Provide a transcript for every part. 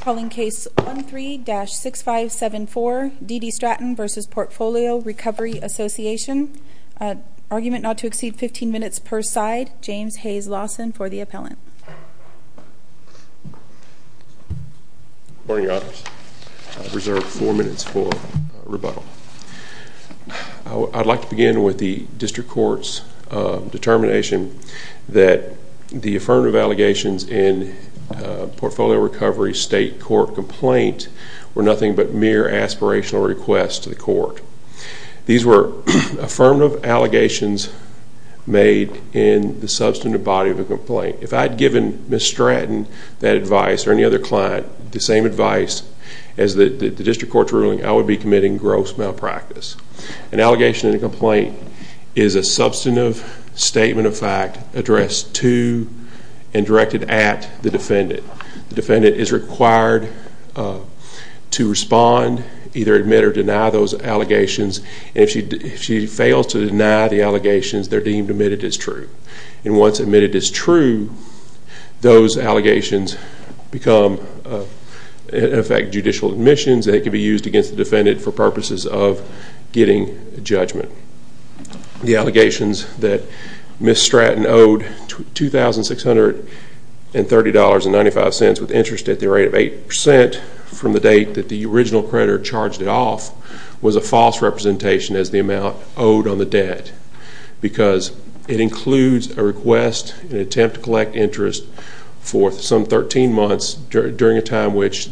Calling case 13-6574, Dede Stratton v. Portfolio Recovery Association. Argument not to exceed 15 minutes per side. James Hayes Lawson for the appellant. Good morning, Your Honors. I've reserved four minutes for rebuttal. I'd like to begin with the district court's determination that the affirmative allegations in Portfolio Recovery's state court complaint were nothing but mere aspirational requests to the court. These were affirmative allegations made in the substantive body of a complaint. If I'd given Ms. Stratton that advice or any other client the same advice as the district court's ruling, I would be committing gross malpractice. An allegation in a complaint is a substantive statement of fact addressed to and directed at the defendant. The defendant is required to respond, either admit or deny those allegations. And if she fails to deny the allegations, they're deemed admitted as true. And once admitted as true, those allegations become, in effect, judicial admissions that could be used against the defendant for purposes of getting judgment. The allegations that Ms. Stratton owed $2,630.95 with interest at the rate of 8% from the date that the original creditor charged it off was a false representation as the amount owed on the debt. Because it includes a request, an attempt to collect interest for some 13 months during a time which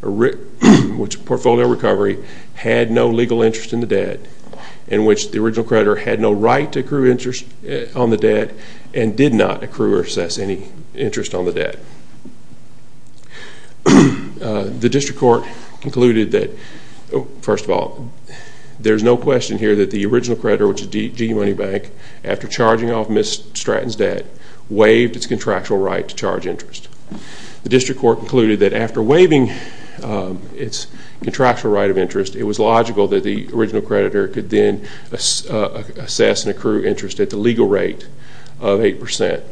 Portfolio Recovery had no legal interest in the debt in which the original creditor had no right to accrue interest on the debt and did not accrue or assess any interest on the debt. The district court concluded that, first of all, there's no question here that the original creditor, which is GE Money Bank, after charging off Ms. Stratton's debt, waived its contractual right to charge interest. The district court concluded that after waiving its contractual right of interest, it was logical that the original creditor could then assess and accrue interest at the legal rate of 8%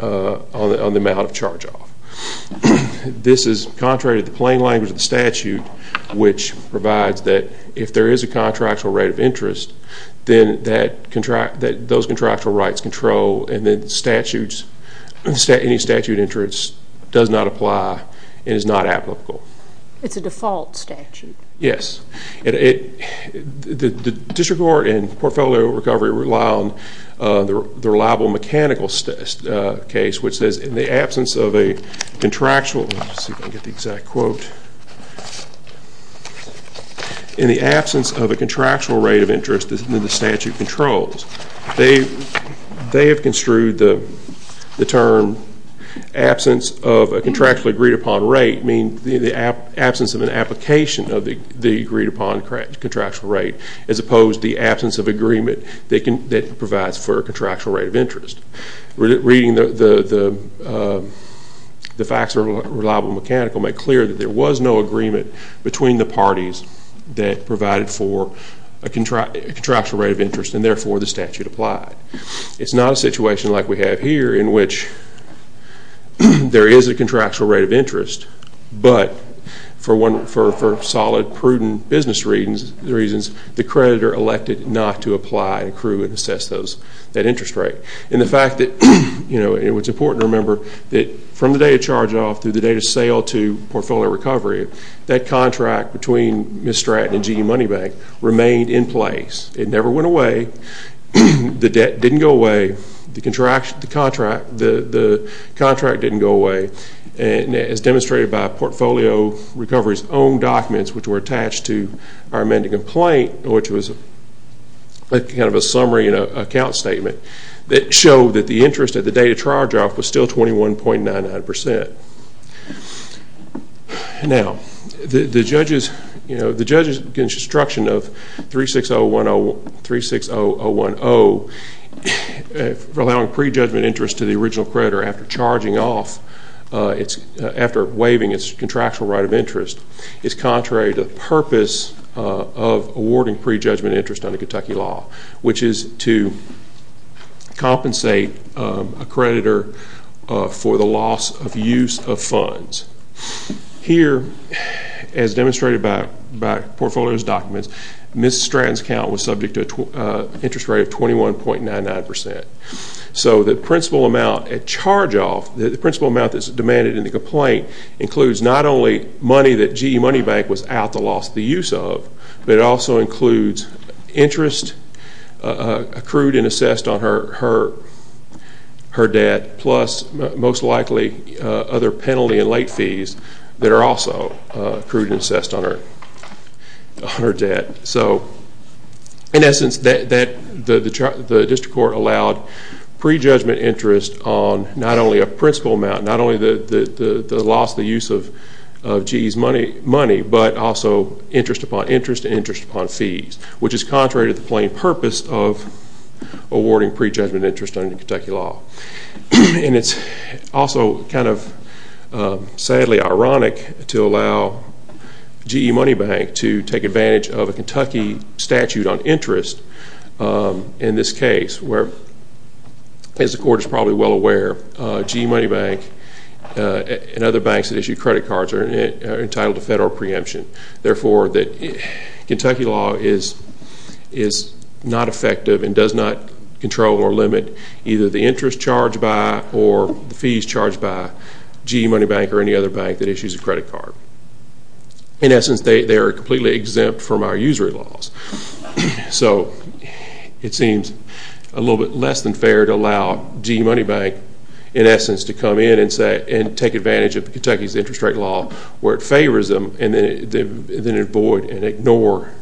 on the amount of charge off. This is contrary to the plain language of the statute, which provides that if there is a contractual right of interest, then those contractual rights control, and then any statute of interest does not apply and is not applicable. It's a default statute. Yes. The district court and Portfolio Recovery rely on the reliable mechanical case, which says, in the absence of a contractual rate of interest that the statute controls, they have construed the term absence of a contractually agreed-upon rate mean the absence of an application of the agreed-upon contractual rate, as opposed to the absence of agreement that provides for a contractual rate of interest. Reading the facts of the reliable mechanical made clear that there was no agreement between the parties that provided for a contractual rate of interest, and therefore the statute applied. It's not a situation like we have here, in which there is a contractual rate of interest, but for solid, prudent business reasons, the creditor elected not to apply and accrue and assess that interest rate. And the fact that it was important to remember that from the day of charge-off through the day of sale to Portfolio Recovery, that contract between Miss Stratton and GE Money Bank remained in place. It never went away. The debt didn't go away. The contract didn't go away. And as demonstrated by Portfolio Recovery's own documents, which were attached to our amended complaint, which was kind of a summary and an account statement, that showed that the interest at the day of charge-off was still 21.99%. Now, the judge's instruction of 36010 allowing pre-judgment interest to the original creditor after charging off, after waiving its contractual right of interest, is contrary to the purpose of awarding pre-judgment interest under Kentucky law, which is to compensate a creditor for the loss of use of funds. Here, as demonstrated by Portfolio Recovery's documents, Miss Stratton's account was subject to an interest rate of 21.99%. So the principal amount at charge-off, the principal amount that's demanded in the complaint, includes not only money that GE Money Bank was out to loss the use of, but it also includes interest accrued and assessed on her debt, plus most likely other penalty and late fees that are also accrued and assessed on her debt. So in essence, the district court allowed pre-judgment interest on not only a principal amount, not only the loss of the use of GE's money, but also interest upon interest and interest upon fees, which is contrary to the plain purpose of awarding pre-judgment interest under Kentucky law. And it's also kind of sadly ironic to allow GE Money Bank to take advantage of a Kentucky statute on interest in this case, where, as the court is probably well aware, GE Money Bank and other banks that issue credit cards are entitled to federal preemption. Therefore, Kentucky law is not effective and does not control or limit either the interest charged by or the fees charged by GE Money Bank or any other bank that issues a credit card. In essence, they are completely exempt from our usury laws. So it seems a little bit less than fair to allow GE Money Bank, in essence, to come in and take advantage of Kentucky's interest rate law, where it favors them, and then avoid and ignore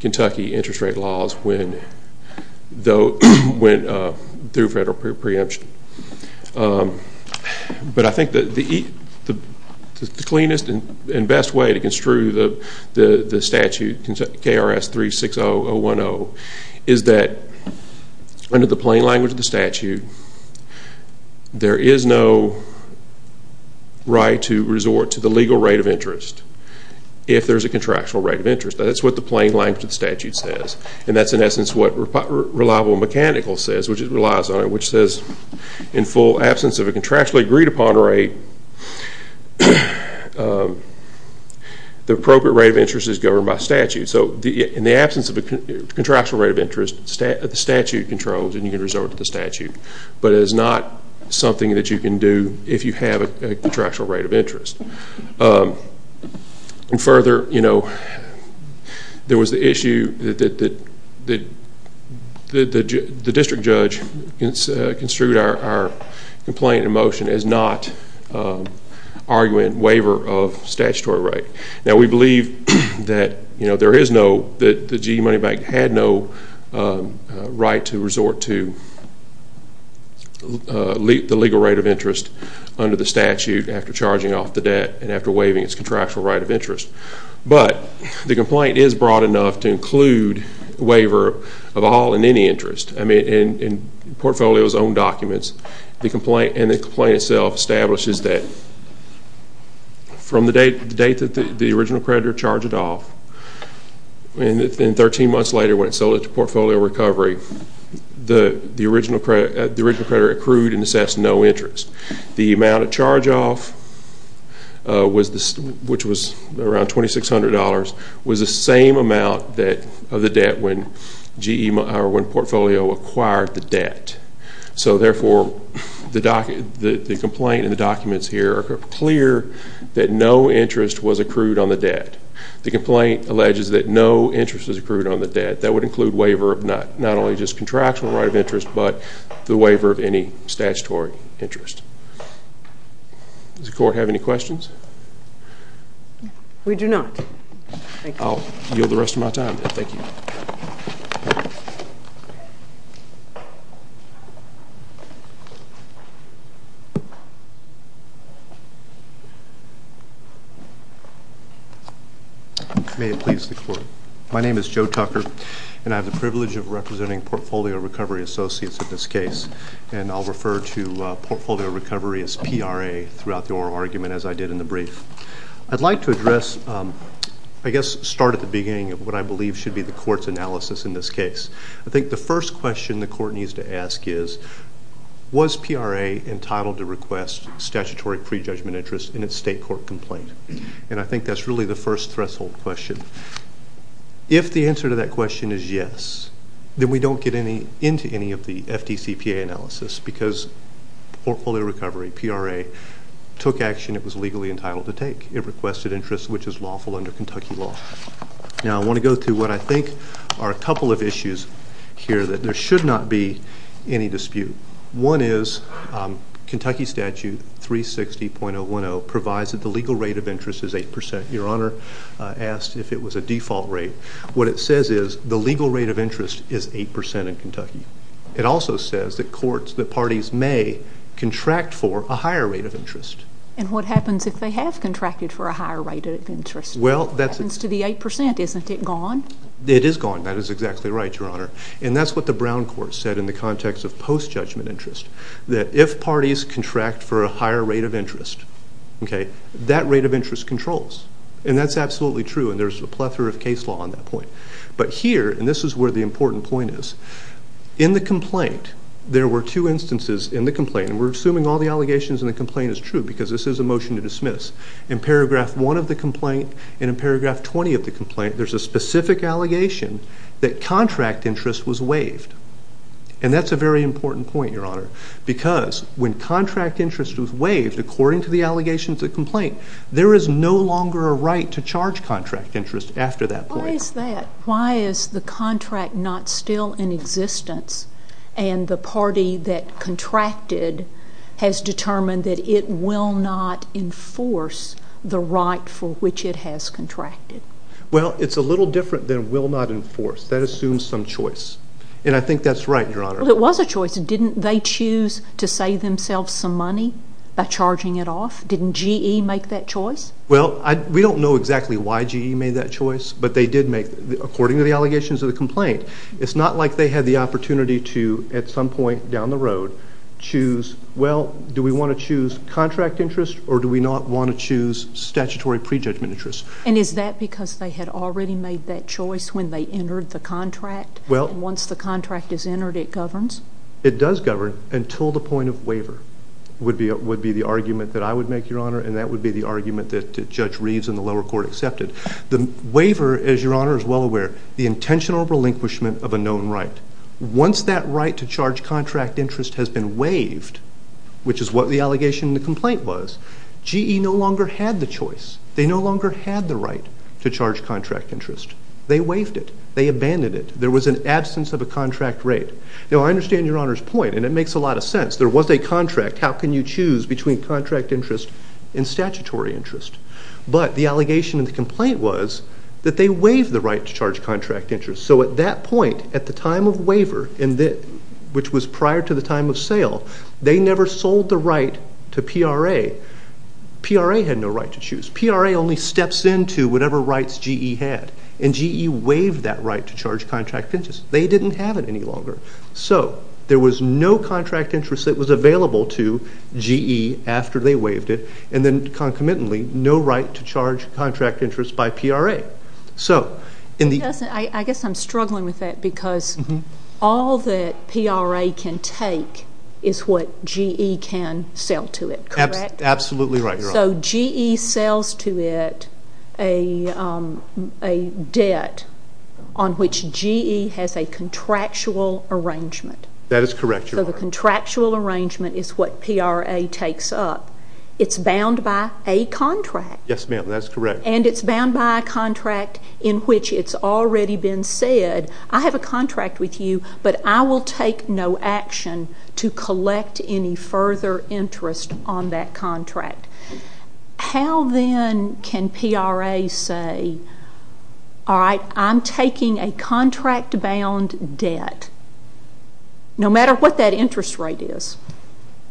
Kentucky interest rate laws through federal preemption. But I think the cleanest and best way to construe the statute, KRS 36010, is that under the plain language of the statute, there is no right to resort to the legal rate of interest if there's a contractual rate of interest. That's what the plain language of the statute says. And that's, in essence, what reliable and mechanical says, which it relies on, which says, in full absence of a contractually agreed upon rate, the appropriate rate of interest is governed by statute. So in the absence of a contractual rate of interest, the statute controls, and you can resort to the statute. But it is not something that you can do if you have a contractual rate of interest. And further, there was the issue that the district judge construed our complaint in motion as not arguing waiver of statutory right. Now, we believe that there is no, that the GE Money Bank had no right to resort to the legal rate of interest under the statute after charging off the debt and after waiving its contractual right of interest. But the complaint is broad enough to include waiver of all and any interest. I mean, in Portfolio's own documents, the complaint and the complaint itself establishes that from the date that the original creditor charged it off, and 13 months later, when it sold it to Portfolio Recovery, the original creditor accrued and assessed no interest. The amount of charge off, which was around $2,600, was the same amount of the debt when Portfolio acquired the debt. So therefore, the complaint in the documents here are clear that no interest was accrued on the debt. The complaint alleges that no interest was accrued on the debt. That would include waiver of not only just contractual right of interest, but the waiver of any statutory interest. Does the court have any questions? We do not. I'll yield the rest of my time then. Thank you. May it please the court. My name is Joe Tucker, and I have the privilege of representing Portfolio Recovery Associates in this case. And I'll refer to Portfolio Recovery as PRA throughout the oral argument, as I did in the brief. I'd like to address, I guess, start at the beginning of what I believe should be the court's analysis in this case. I think the first question the court needs to ask is, was PRA entitled to request statutory prejudgment interest in its state court complaint? And I think that's really the first threshold question. If the answer to that question is yes, then we don't get into any of the FDCPA analysis, because Portfolio Recovery, PRA, took action it was legally entitled to take. It requested interest, which is lawful under Kentucky law. Now, I want to go through what I think are a couple of issues here that there should not be any dispute. One is, Kentucky statute 360.010 provides that the legal rate of interest is 8%. Your Honor asked if it was a default rate. What it says is, the legal rate of interest is 8% in Kentucky. It also says that courts, that parties may contract for a higher rate of interest. And what happens if they have contracted for a higher rate of interest? Well, that's it. What happens to the 8%? Isn't it gone? It is gone. That is exactly right, Your Honor. And that's what the Brown Court said in the context of post-judgment interest, that if parties contract for a higher rate of interest, that rate of interest controls. And that's absolutely true. And there's a plethora of case law on that point. But here, and this is where the important point is, in the complaint, there were two instances in the complaint. And we're assuming all the allegations in the complaint is true, because this is a motion to dismiss. In paragraph 1 of the complaint, and in paragraph 20 of the complaint, there's a specific allegation that contract interest was waived. And that's a very important point, Your Honor. Because when contract interest was waived, according to the allegations of the complaint, there is no longer a right to charge contract interest after that point. Why is the contract not still in existence? And the party that contracted has determined that it will not enforce the right for which it has contracted. Well, it's a little different than will not enforce. That assumes some choice. And I think that's right, Your Honor. Well, it was a choice. Didn't they choose to save themselves some money by charging it off? Didn't GE make that choice? Well, we don't know exactly why GE made that choice. But they did make, according to the allegations of the complaint, it's not like they had the opportunity to, at some point down the road, choose, well, do we want to choose contract interest, or do we not want to choose statutory prejudgment interest? And is that because they had already made that choice when they entered the contract? Once the contract is entered, it governs? It does govern until the point of waiver would be the argument that I would make, Your Honor. And that would be the argument that Judge Reeves in the lower court accepted. The waiver, as Your Honor is well aware, the intentional relinquishment of a known right. Once that right to charge contract interest has been waived, which is what the allegation in the complaint was, GE no longer had the choice. They no longer had the right to charge contract interest. They waived it. They abandoned it. There was an absence of a contract rate. Now, I understand Your Honor's point, and it makes a lot of sense. There was a contract. How can you choose between contract interest and statutory interest? But the allegation in the complaint was that they waived the right to charge contract interest. So at that point, at the time of waiver, which was prior to the time of sale, they never sold the right to PRA. PRA had no right to choose. PRA only steps into whatever rights GE had. And GE waived that right to charge contract interest. They didn't have it any longer. So there was no contract interest that was available to GE after they waived it. And then, concomitantly, no right to charge contract interest by PRA. So in the- I guess I'm struggling with that, because all that PRA can take is what GE can sell to it. Correct? Absolutely right, Your Honor. So GE sells to it a debt on which GE has a contractual arrangement. That is correct, Your Honor. So the contractual arrangement is what PRA takes up. It's bound by a contract. Yes, ma'am. That's correct. And it's bound by a contract in which it's already been said, I have a contract with you, but I will take no action to collect any further interest on that contract. How, then, can PRA say, all right, I'm taking a contract-bound debt, no matter what that interest rate is?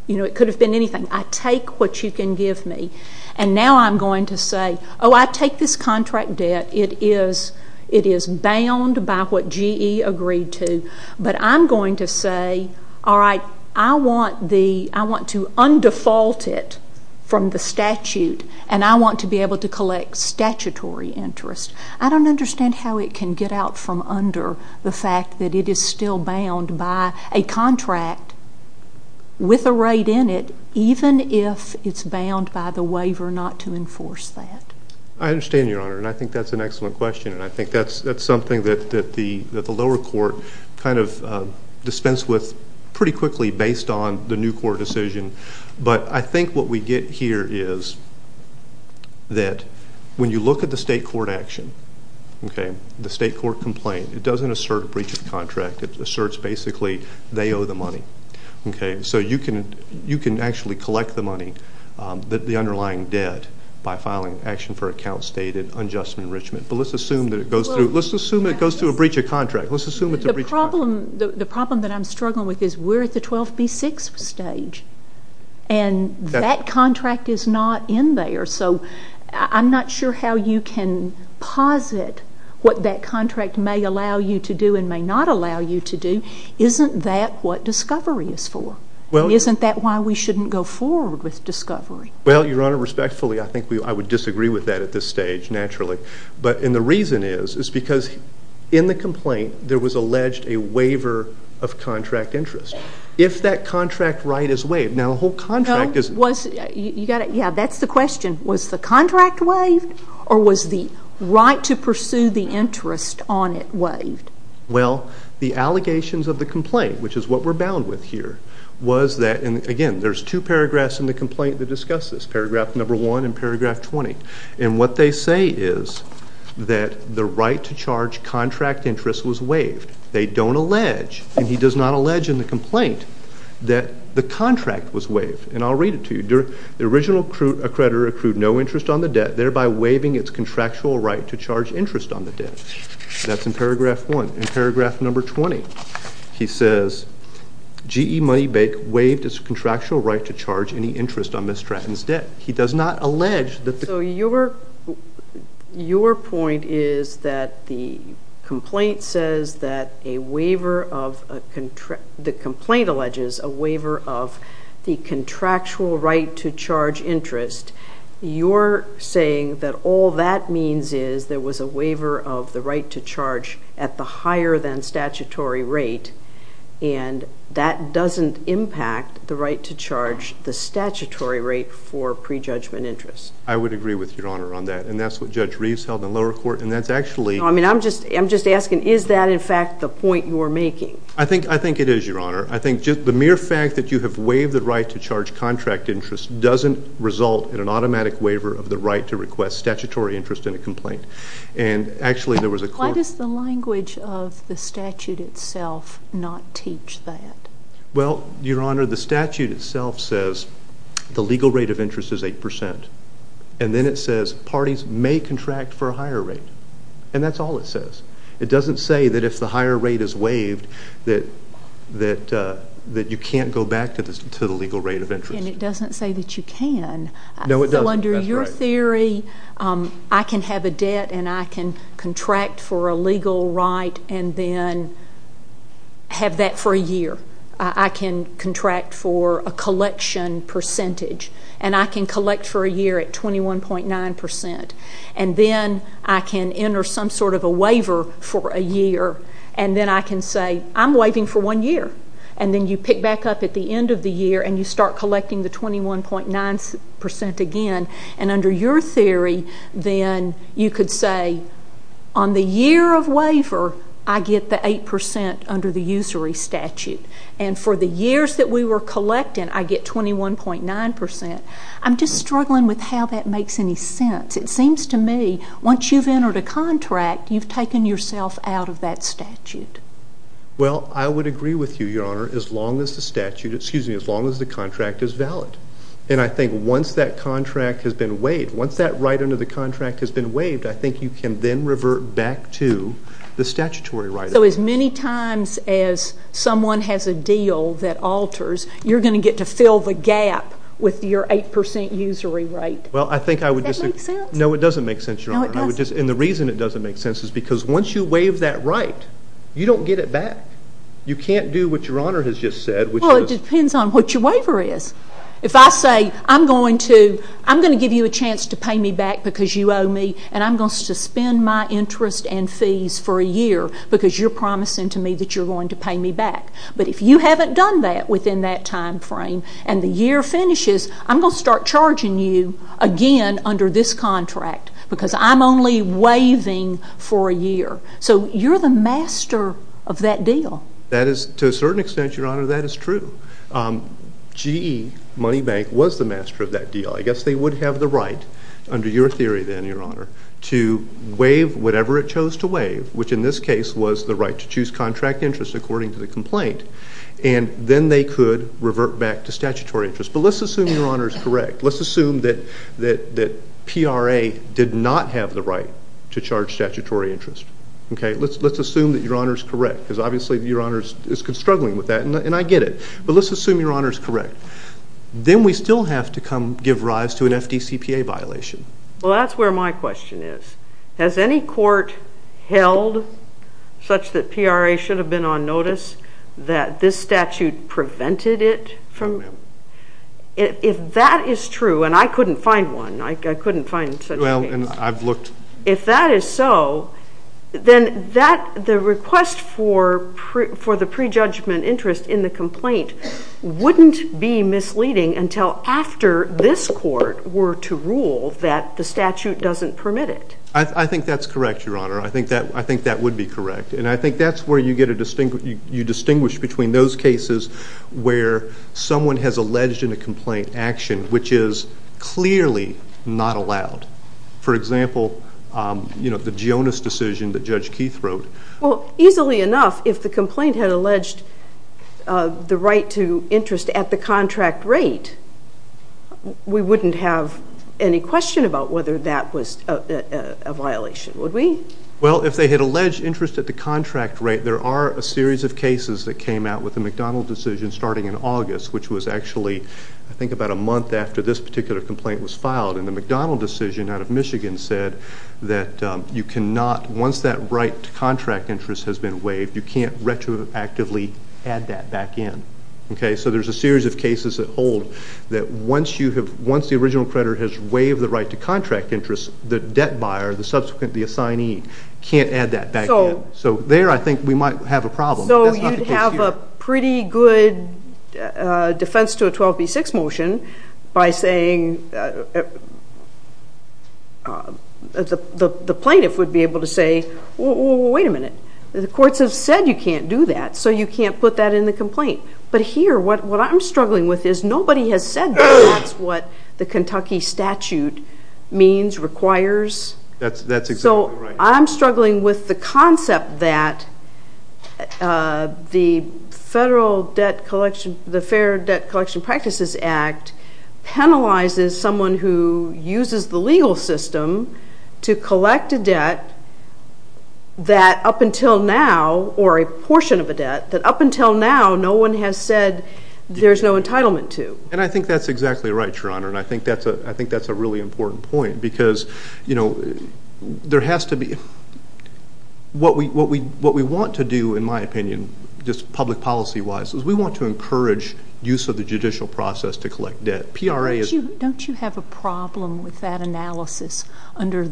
It could have been anything. I take what you can give me. And now I'm going to say, oh, I take this contract debt. It is bound by what GE agreed to. But I'm going to say, all right, I want to undefault it from the statute, and I want to be able to collect statutory interest. I don't understand how it can get out from under the fact that it is still bound by a contract with a rate in it, even if it's bound by the waiver not to enforce that. I understand, Your Honor. And I think that's an excellent question. And I think that's something that the lower court kind of dispensed with pretty quickly based on the new court decision. But I think what we get here is that when you look at the state court action, the state court complaint, it doesn't assert a breach of contract. It asserts, basically, they owe the money. So you can actually collect the money, the underlying debt, by filing action for a count stated unjust enrichment. But let's assume that it goes through. Let's assume it goes through a breach of contract. Let's assume it's a breach of contract. The problem that I'm struggling with is we're at the 12B6 stage. And that contract is not in there. So I'm not sure how you can posit what that contract may allow you to do and may not allow you to do. Isn't that what discovery is for? Isn't that why we shouldn't go forward with discovery? Well, Your Honor, respectfully, I think I would disagree with that at this stage, naturally. But the reason is, is because in the complaint, there was alleged a waiver of contract interest. If that contract right is waived, now a whole contract is waived. Yeah, that's the question. Was the contract waived? Or was the right to pursue the interest on it waived? Well, the allegations of the complaint, which is what we're bound with here, was that, and again, there's two paragraphs in the complaint that discuss this, paragraph number 1 and paragraph 20. And what they say is that the right to charge contract interest was waived. They don't allege, and he does not allege in the complaint, that the contract was waived. And I'll read it to you. The original creditor accrued no interest on the debt, thereby waiving its contractual right to charge interest on the debt. That's in paragraph 1. In paragraph number 20, he says, GE Money Bank waived its contractual right to charge any interest on Ms. Stratton's debt. He does not allege that the- So your point is that the complaint alleges a waiver of the contractual right to charge interest. You're saying that all that means is there was a waiver of the right to charge at the higher than statutory rate. And that doesn't impact the right to charge the statutory rate for prejudgment interest. I would agree with Your Honor on that. And that's what Judge Reeves held in lower court. And that's actually- No, I mean, I'm just asking, is that, in fact, the point you are making? I think it is, Your Honor. I think the mere fact that you have waived the right to charge contract interest doesn't result in an automatic waiver of the right to request statutory interest in a complaint. And actually, there was a court- Why does the language of the statute itself not teach that? Well, Your Honor, the statute itself says the legal rate of interest is 8%. And then it says parties may contract for a higher rate. And that's all it says. It doesn't say that if the higher rate is waived, that you can't go back to the legal rate of interest. And it doesn't say that you can. No, it doesn't. So under your theory, I can have a debt and I can contract for a legal right and then have that for a year. I can contract for a collection percentage. And I can collect for a year at 21.9%. And then I can enter some sort of a waiver for a year. And then I can say, I'm waiving for one year. And then you pick back up at the end of the year and you start collecting the 21.9% again. And under your theory, then you could say, on the year of waiver, I get the 8% under the usury statute. And for the years that we were collecting, I get 21.9%. I'm just struggling with how that makes any sense. It seems to me, once you've entered a contract, you've taken yourself out of that statute. Well, I would agree with you, Your Honor, as long as the contract is valid. And I think once that contract has been waived, once that right under the contract has been waived, I think you can then revert back to the statutory right. So as many times as someone has a deal that alters, you're going to get to fill the gap with your 8% usury rate. Well, I think I would just say. No, it doesn't make sense, Your Honor. And the reason it doesn't make sense is because once you waive that right, you don't get it back. You can't do what Your Honor has just said, which was. Well, it depends on what your waiver is. If I say, I'm going to give you a chance to pay me back because you owe me, and I'm going to suspend my interest and fees for a year because you're promising to me that you're going to pay me back. But if you haven't done that within that time frame and the year finishes, I'm going to start charging you again under this contract because I'm only waiving for a year. So you're the master of that deal. That is, to a certain extent, Your Honor, that is true. GE, Money Bank, was the master of that deal. I guess they would have the right, under your theory then, Your Honor, to waive whatever it chose to waive, which in this case was the right to choose contract interest according to the complaint. And then they could revert back to statutory interest. But let's assume Your Honor is correct. Let's assume that PRA did not have the right to charge statutory interest. Let's assume that Your Honor is correct because obviously Your Honor is struggling with that. And I get it. But let's assume Your Honor is correct. Then we still have to come give rise to an FDCPA violation. Well, that's where my question is. Has any court held such that PRA should have been on notice that this statute prevented it from? No, ma'am. If that is true, and I couldn't find one. I couldn't find such a case. Well, and I've looked. If that is so, then the request for the prejudgment interest in the complaint wouldn't be misleading until after this court were to rule that the statute doesn't permit it. I think that's correct, Your Honor. I think that would be correct. And I think that's where you distinguish between those cases where someone has alleged in a complaint action which is clearly not allowed. For example, the Jonas decision that Judge Keith wrote. Well, easily enough, if the complaint had alleged the right to interest at the contract rate, we wouldn't have any question about whether that was a violation, would we? Well, if they had alleged interest at the contract rate, there are a series of cases that came out with the McDonald decision starting in August, which was actually, I think, about a month after this particular complaint was filed. And the McDonald decision out of Michigan said that you cannot, once that right to contract interest has been waived, you can't retroactively add that back in. So there's a series of cases that hold that once the original creditor has waived the right to contract interest, the debt buyer, the subsequent, the assignee, can't add that back in. So there, I think, we might have a problem. So you'd have a pretty good defense to a 12B6 motion by saying, the plaintiff would be able to say, well, wait a minute. The courts have said you can't do that, so you can't put that in the complaint. But here, what I'm struggling with is nobody has said that that's what the Kentucky statute means, requires. That's exactly right. So I'm struggling with the concept that the Fair Debt Collection Practices Act penalizes someone who uses the legal system to collect a debt that, up until now, or a portion of a debt that, up until now, no one has said there's no entitlement to. And I think that's exactly right, Your Honor. And I think that's a really important point. Because there has to be, what we want to do, in my opinion, just public policy-wise, is we want to encourage use of the judicial process to collect debt. PRA is- Don't you have a problem with that analysis under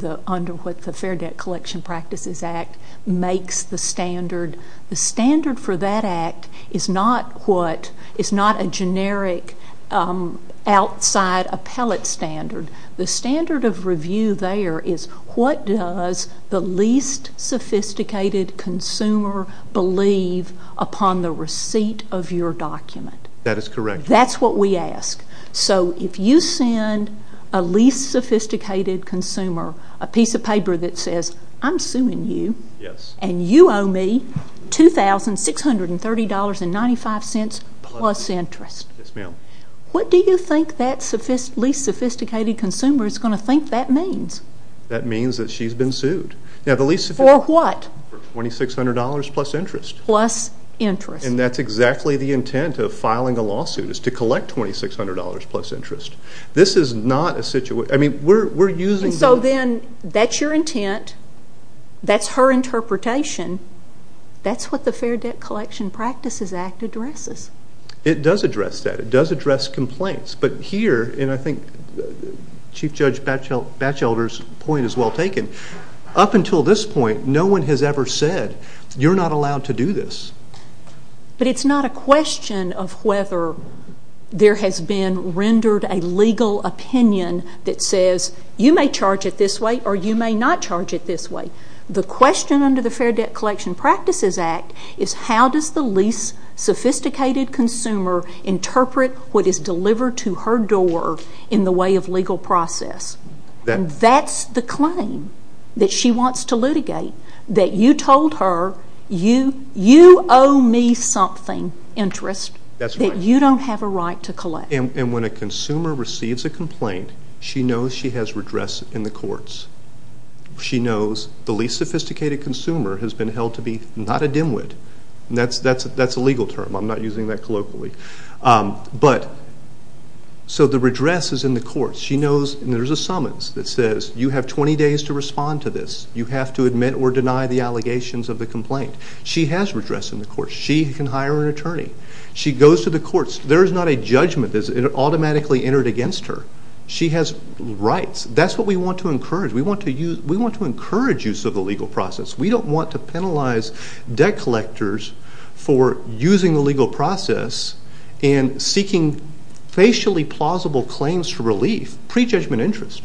what the Fair Debt Collection Practices Act makes the standard? The standard for that act is not what, is not a generic outside appellate standard. The standard of review there is, what does the least sophisticated consumer believe upon the receipt of your document? That is correct. That's what we ask. So if you send a least sophisticated consumer a piece of paper that says, I'm suing you, and you owe me $2,630.95 plus interest, what do you think that least sophisticated consumer is going to think that means? That means that she's been sued. Now, the least sophisticated- For what? For $2,600 plus interest. Plus interest. And that's exactly the intent of filing a lawsuit, is to collect $2,600 plus interest. This is not a situation- I mean, we're using- And so then, that's your intent. That's her interpretation. That's what the Fair Debt Collection Practices Act addresses. It does address that. It does address complaints. But here, and I think Chief Judge Batchelder's point is well taken, up until this point, no one has ever said, you're not allowed to do this. But it's not a question of whether there has been rendered a legal opinion that says, you may charge it this way, or you may not charge it this way. The question under the Fair Debt Collection Practices Act is, how does the least sophisticated consumer interpret what is delivered to her door in the way of legal process? That's the claim that she wants to litigate, that you told her, you owe me something, interest, that you don't have a right to collect. And when a consumer receives a complaint, she knows she has redress in the courts. She knows the least sophisticated consumer has been held to be not a dimwit. That's a legal term. I'm not using that colloquially. So the redress is in the courts. She knows, and there's a summons that says, you have 20 days to respond to this. You have to admit or deny the allegations of the complaint. She has redress in the courts. She can hire an attorney. She goes to the courts. There is not a judgment that is automatically entered against her. She has rights. That's what we want to encourage. We want to encourage use of the legal process. We don't want to penalize debt collectors for using the legal process and seeking facially plausible claims for relief, pre-judgment interest.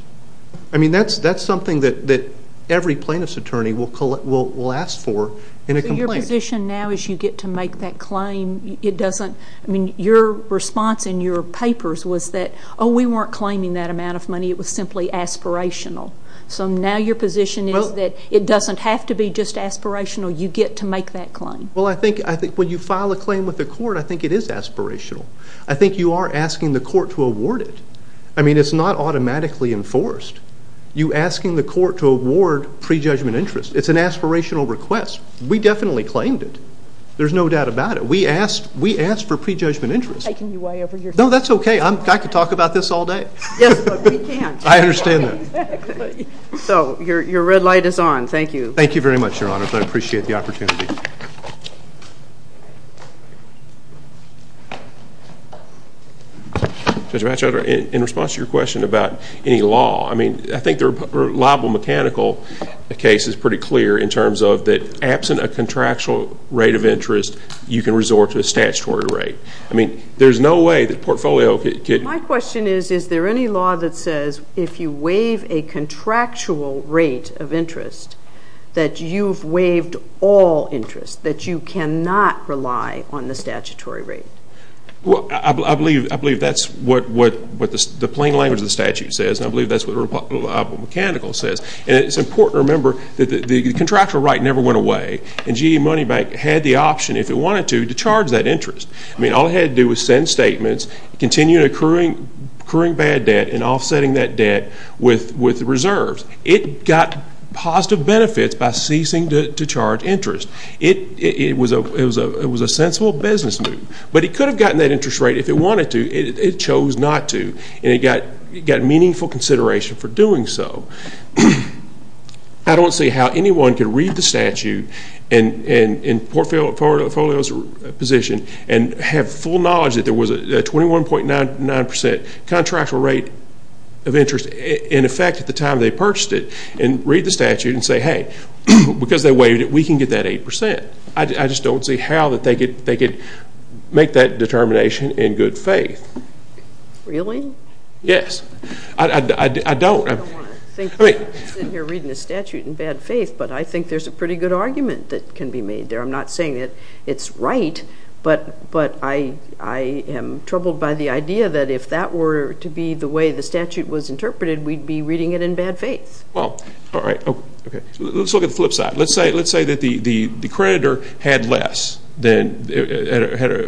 I mean, that's something that every plaintiff's attorney will ask for in a complaint. So your position now, as you get to make that claim, it doesn't, I mean, your response in your papers was that, oh, we weren't claiming that amount of money. It was simply aspirational. So now your position is that it doesn't have to be just aspirational. You get to make that claim. Well, I think when you file a claim with the court, I think it is aspirational. I think you are asking the court to award it. I mean, it's not automatically enforced. You're asking the court to award pre-judgment interest. It's an aspirational request. We definitely claimed it. There's no doubt about it. We asked for pre-judgment interest. I'm taking you way over your head. No, that's OK. I could talk about this all day. Yes, but we can't. I understand that. So your red light is on. Thank you. Thank you very much, Your Honor. I appreciate the opportunity. Judge Batchelder, in response to your question about any law, I mean, I think the liable mechanical case is pretty clear in terms of that absent a contractual rate of interest, you can resort to a statutory rate. I mean, there's no way that portfolio could. My question is, is there any law that that you've waived all interest, that you cannot rely on the statutory rate? Well, I believe that's what the plain language of the statute says. And I believe that's what the liable mechanical says. And it's important to remember that the contractual right never went away. And GE Money Bank had the option, if it wanted to, to charge that interest. I mean, all it had to do was send statements, continue accruing bad debt, and offsetting that debt with reserves. It got positive benefits by ceasing to charge interest. It was a sensible business move. But it could have gotten that interest rate if it wanted to. It chose not to. And it got meaningful consideration for doing so. I don't see how anyone could read the statute and portfolio's position and have full knowledge that there was a 21.99% contractual rate of interest in effect at the time they purchased it, and read the statute and say, hey, because they waived it, we can get that 8%. I just don't see how that they could make that determination in good faith. Really? Yes. I don't. I don't want to think that you're reading the statute in bad faith. But I think there's a pretty good argument that can be made there. I'm not saying that it's right. But I am troubled by the idea that if that were to be the way the statute was interpreted, we'd be reading it in bad faith. Well, all right. Let's look at the flip side. Let's say that the creditor had a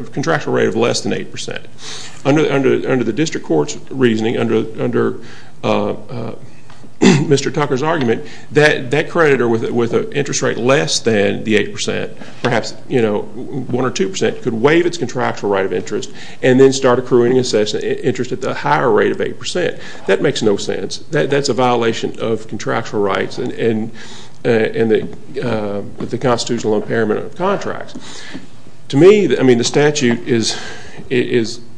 contractual rate of less than 8%. Under the district court's reasoning, under Mr. Tucker's argument, that creditor with an interest rate less than the 8%, perhaps 1% or 2%, could waive its contractual right of interest and then start accruing interest at the higher rate of 8%. That makes no sense. That's a violation of contractual rights and the constitutional impairment of contracts. To me, the statute is,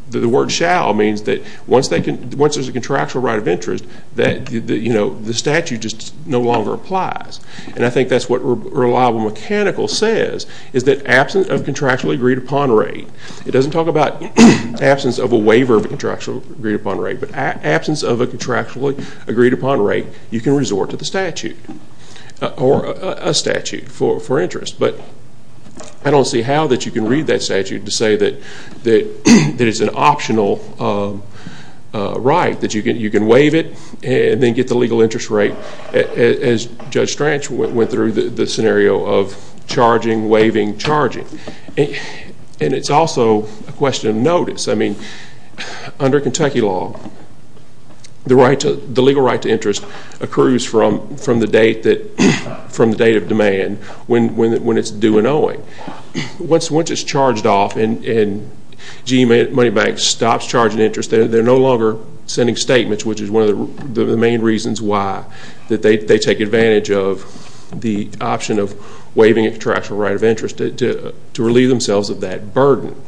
the word shall means that once there's a contractual right of interest, the statute just no longer applies. And I think that's what reliable mechanical says, is that absent of contractually agreed upon rate, it doesn't talk about absence of a waiver of contractually agreed upon rate, but absence of a contractually agreed upon rate, you can resort to the statute or a statute for interest. But I don't see how that you can read that statute to say that it's an optional right, that you can waive it and then get the legal interest rate as Judge Stranch went through the scenario of charging, waiving, charging. And it's also a question of notice. I mean, under Kentucky law, the legal right to interest accrues from the date of demand, when it's due and owing. Once it's charged off and GE Money Bank stops charging interest, they're no longer sending statements, which is one of the main reasons why, that they take advantage of the option of waiving contractual right of interest to relieve themselves of that burden.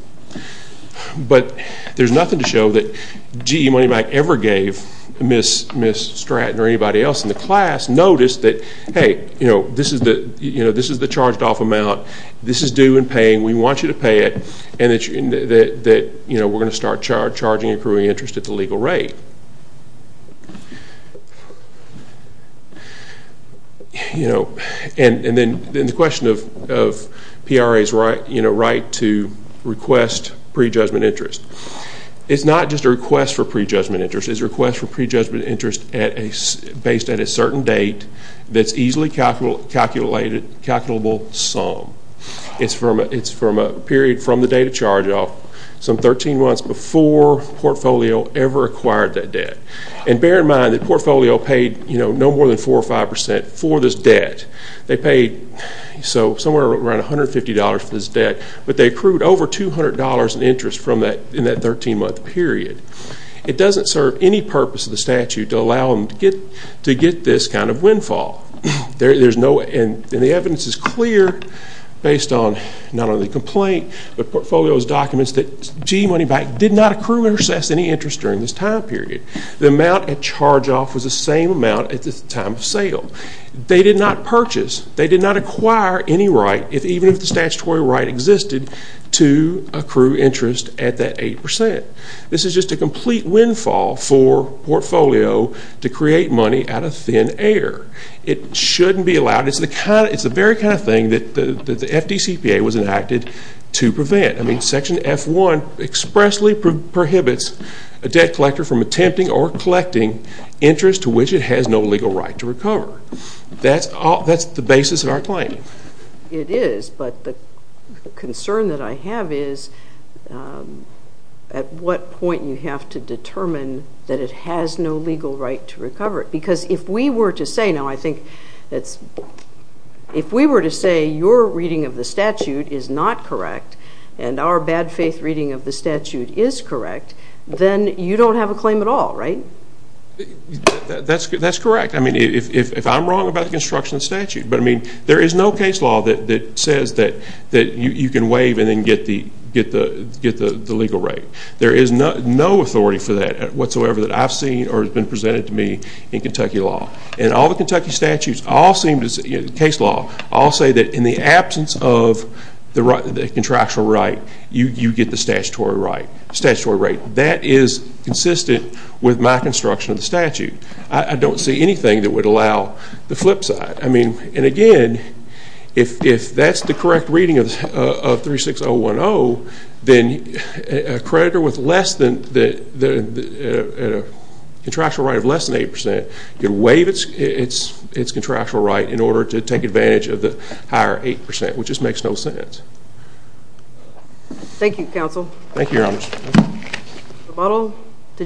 But there's nothing to show that GE Money Bank ever gave Ms. Stratton or anybody else in the class notice that, hey, this is the charged off amount. This is due and paying. We want you to pay it. And that we're going to start charging and accruing interest at the legal rate. And then the question of PRA's right to request prejudgment interest. It's not just a request for prejudgment interest. It's a request for prejudgment interest based at a certain date that's easily calculable sum. It's from a period from the date of charge off, some 13 months before Portfolio ever acquired that debt. And bear in mind that Portfolio paid no more than 4% or 5% for this debt. They paid somewhere around $150 for this debt. But they accrued over $200 in interest from that 13-month period. It doesn't serve any purpose of the statute to allow them to get this kind of windfall. And the evidence is clear based on not only the complaint, but Portfolio's documents that G Money Bank did not accrue or assess any interest during this time period. The amount at charge off was the same amount at the time of sale. They did not purchase. They did not acquire any right, even if the statutory right existed, to accrue interest at that 8%. This is just a complete windfall for Portfolio to create money out of thin air. It shouldn't be allowed. It's the very kind of thing that the FDCPA was enacted to prevent. I mean, Section F1 expressly prohibits a debt collector from attempting or collecting interest to which it has no legal right to recover. That's the basis of our claim. It is, but the concern that I have is at what point you have to determine that it has no legal right to recover it. Because if we were to say, now, I is not correct, and our bad faith reading of the statute is correct, then you don't have a claim at all, right? That's correct. I mean, if I'm wrong about the construction statute, but I mean, there is no case law that says that you can waive and then get the legal right. There is no authority for that whatsoever that I've seen or has been presented to me in Kentucky law. And all the Kentucky statutes all seem to say, case law, I'll say that in the absence of the contractual right, you get the statutory right. That is consistent with my construction of the statute. I don't see anything that would allow the flip side. I mean, and again, if that's the correct reading of 36010, then a creditor with a contractual right of less than 8% can waive its contractual right in order to take advantage of the higher 8%, which just makes no sense. Thank you, counsel. Thank you, your honor. Rebuttal to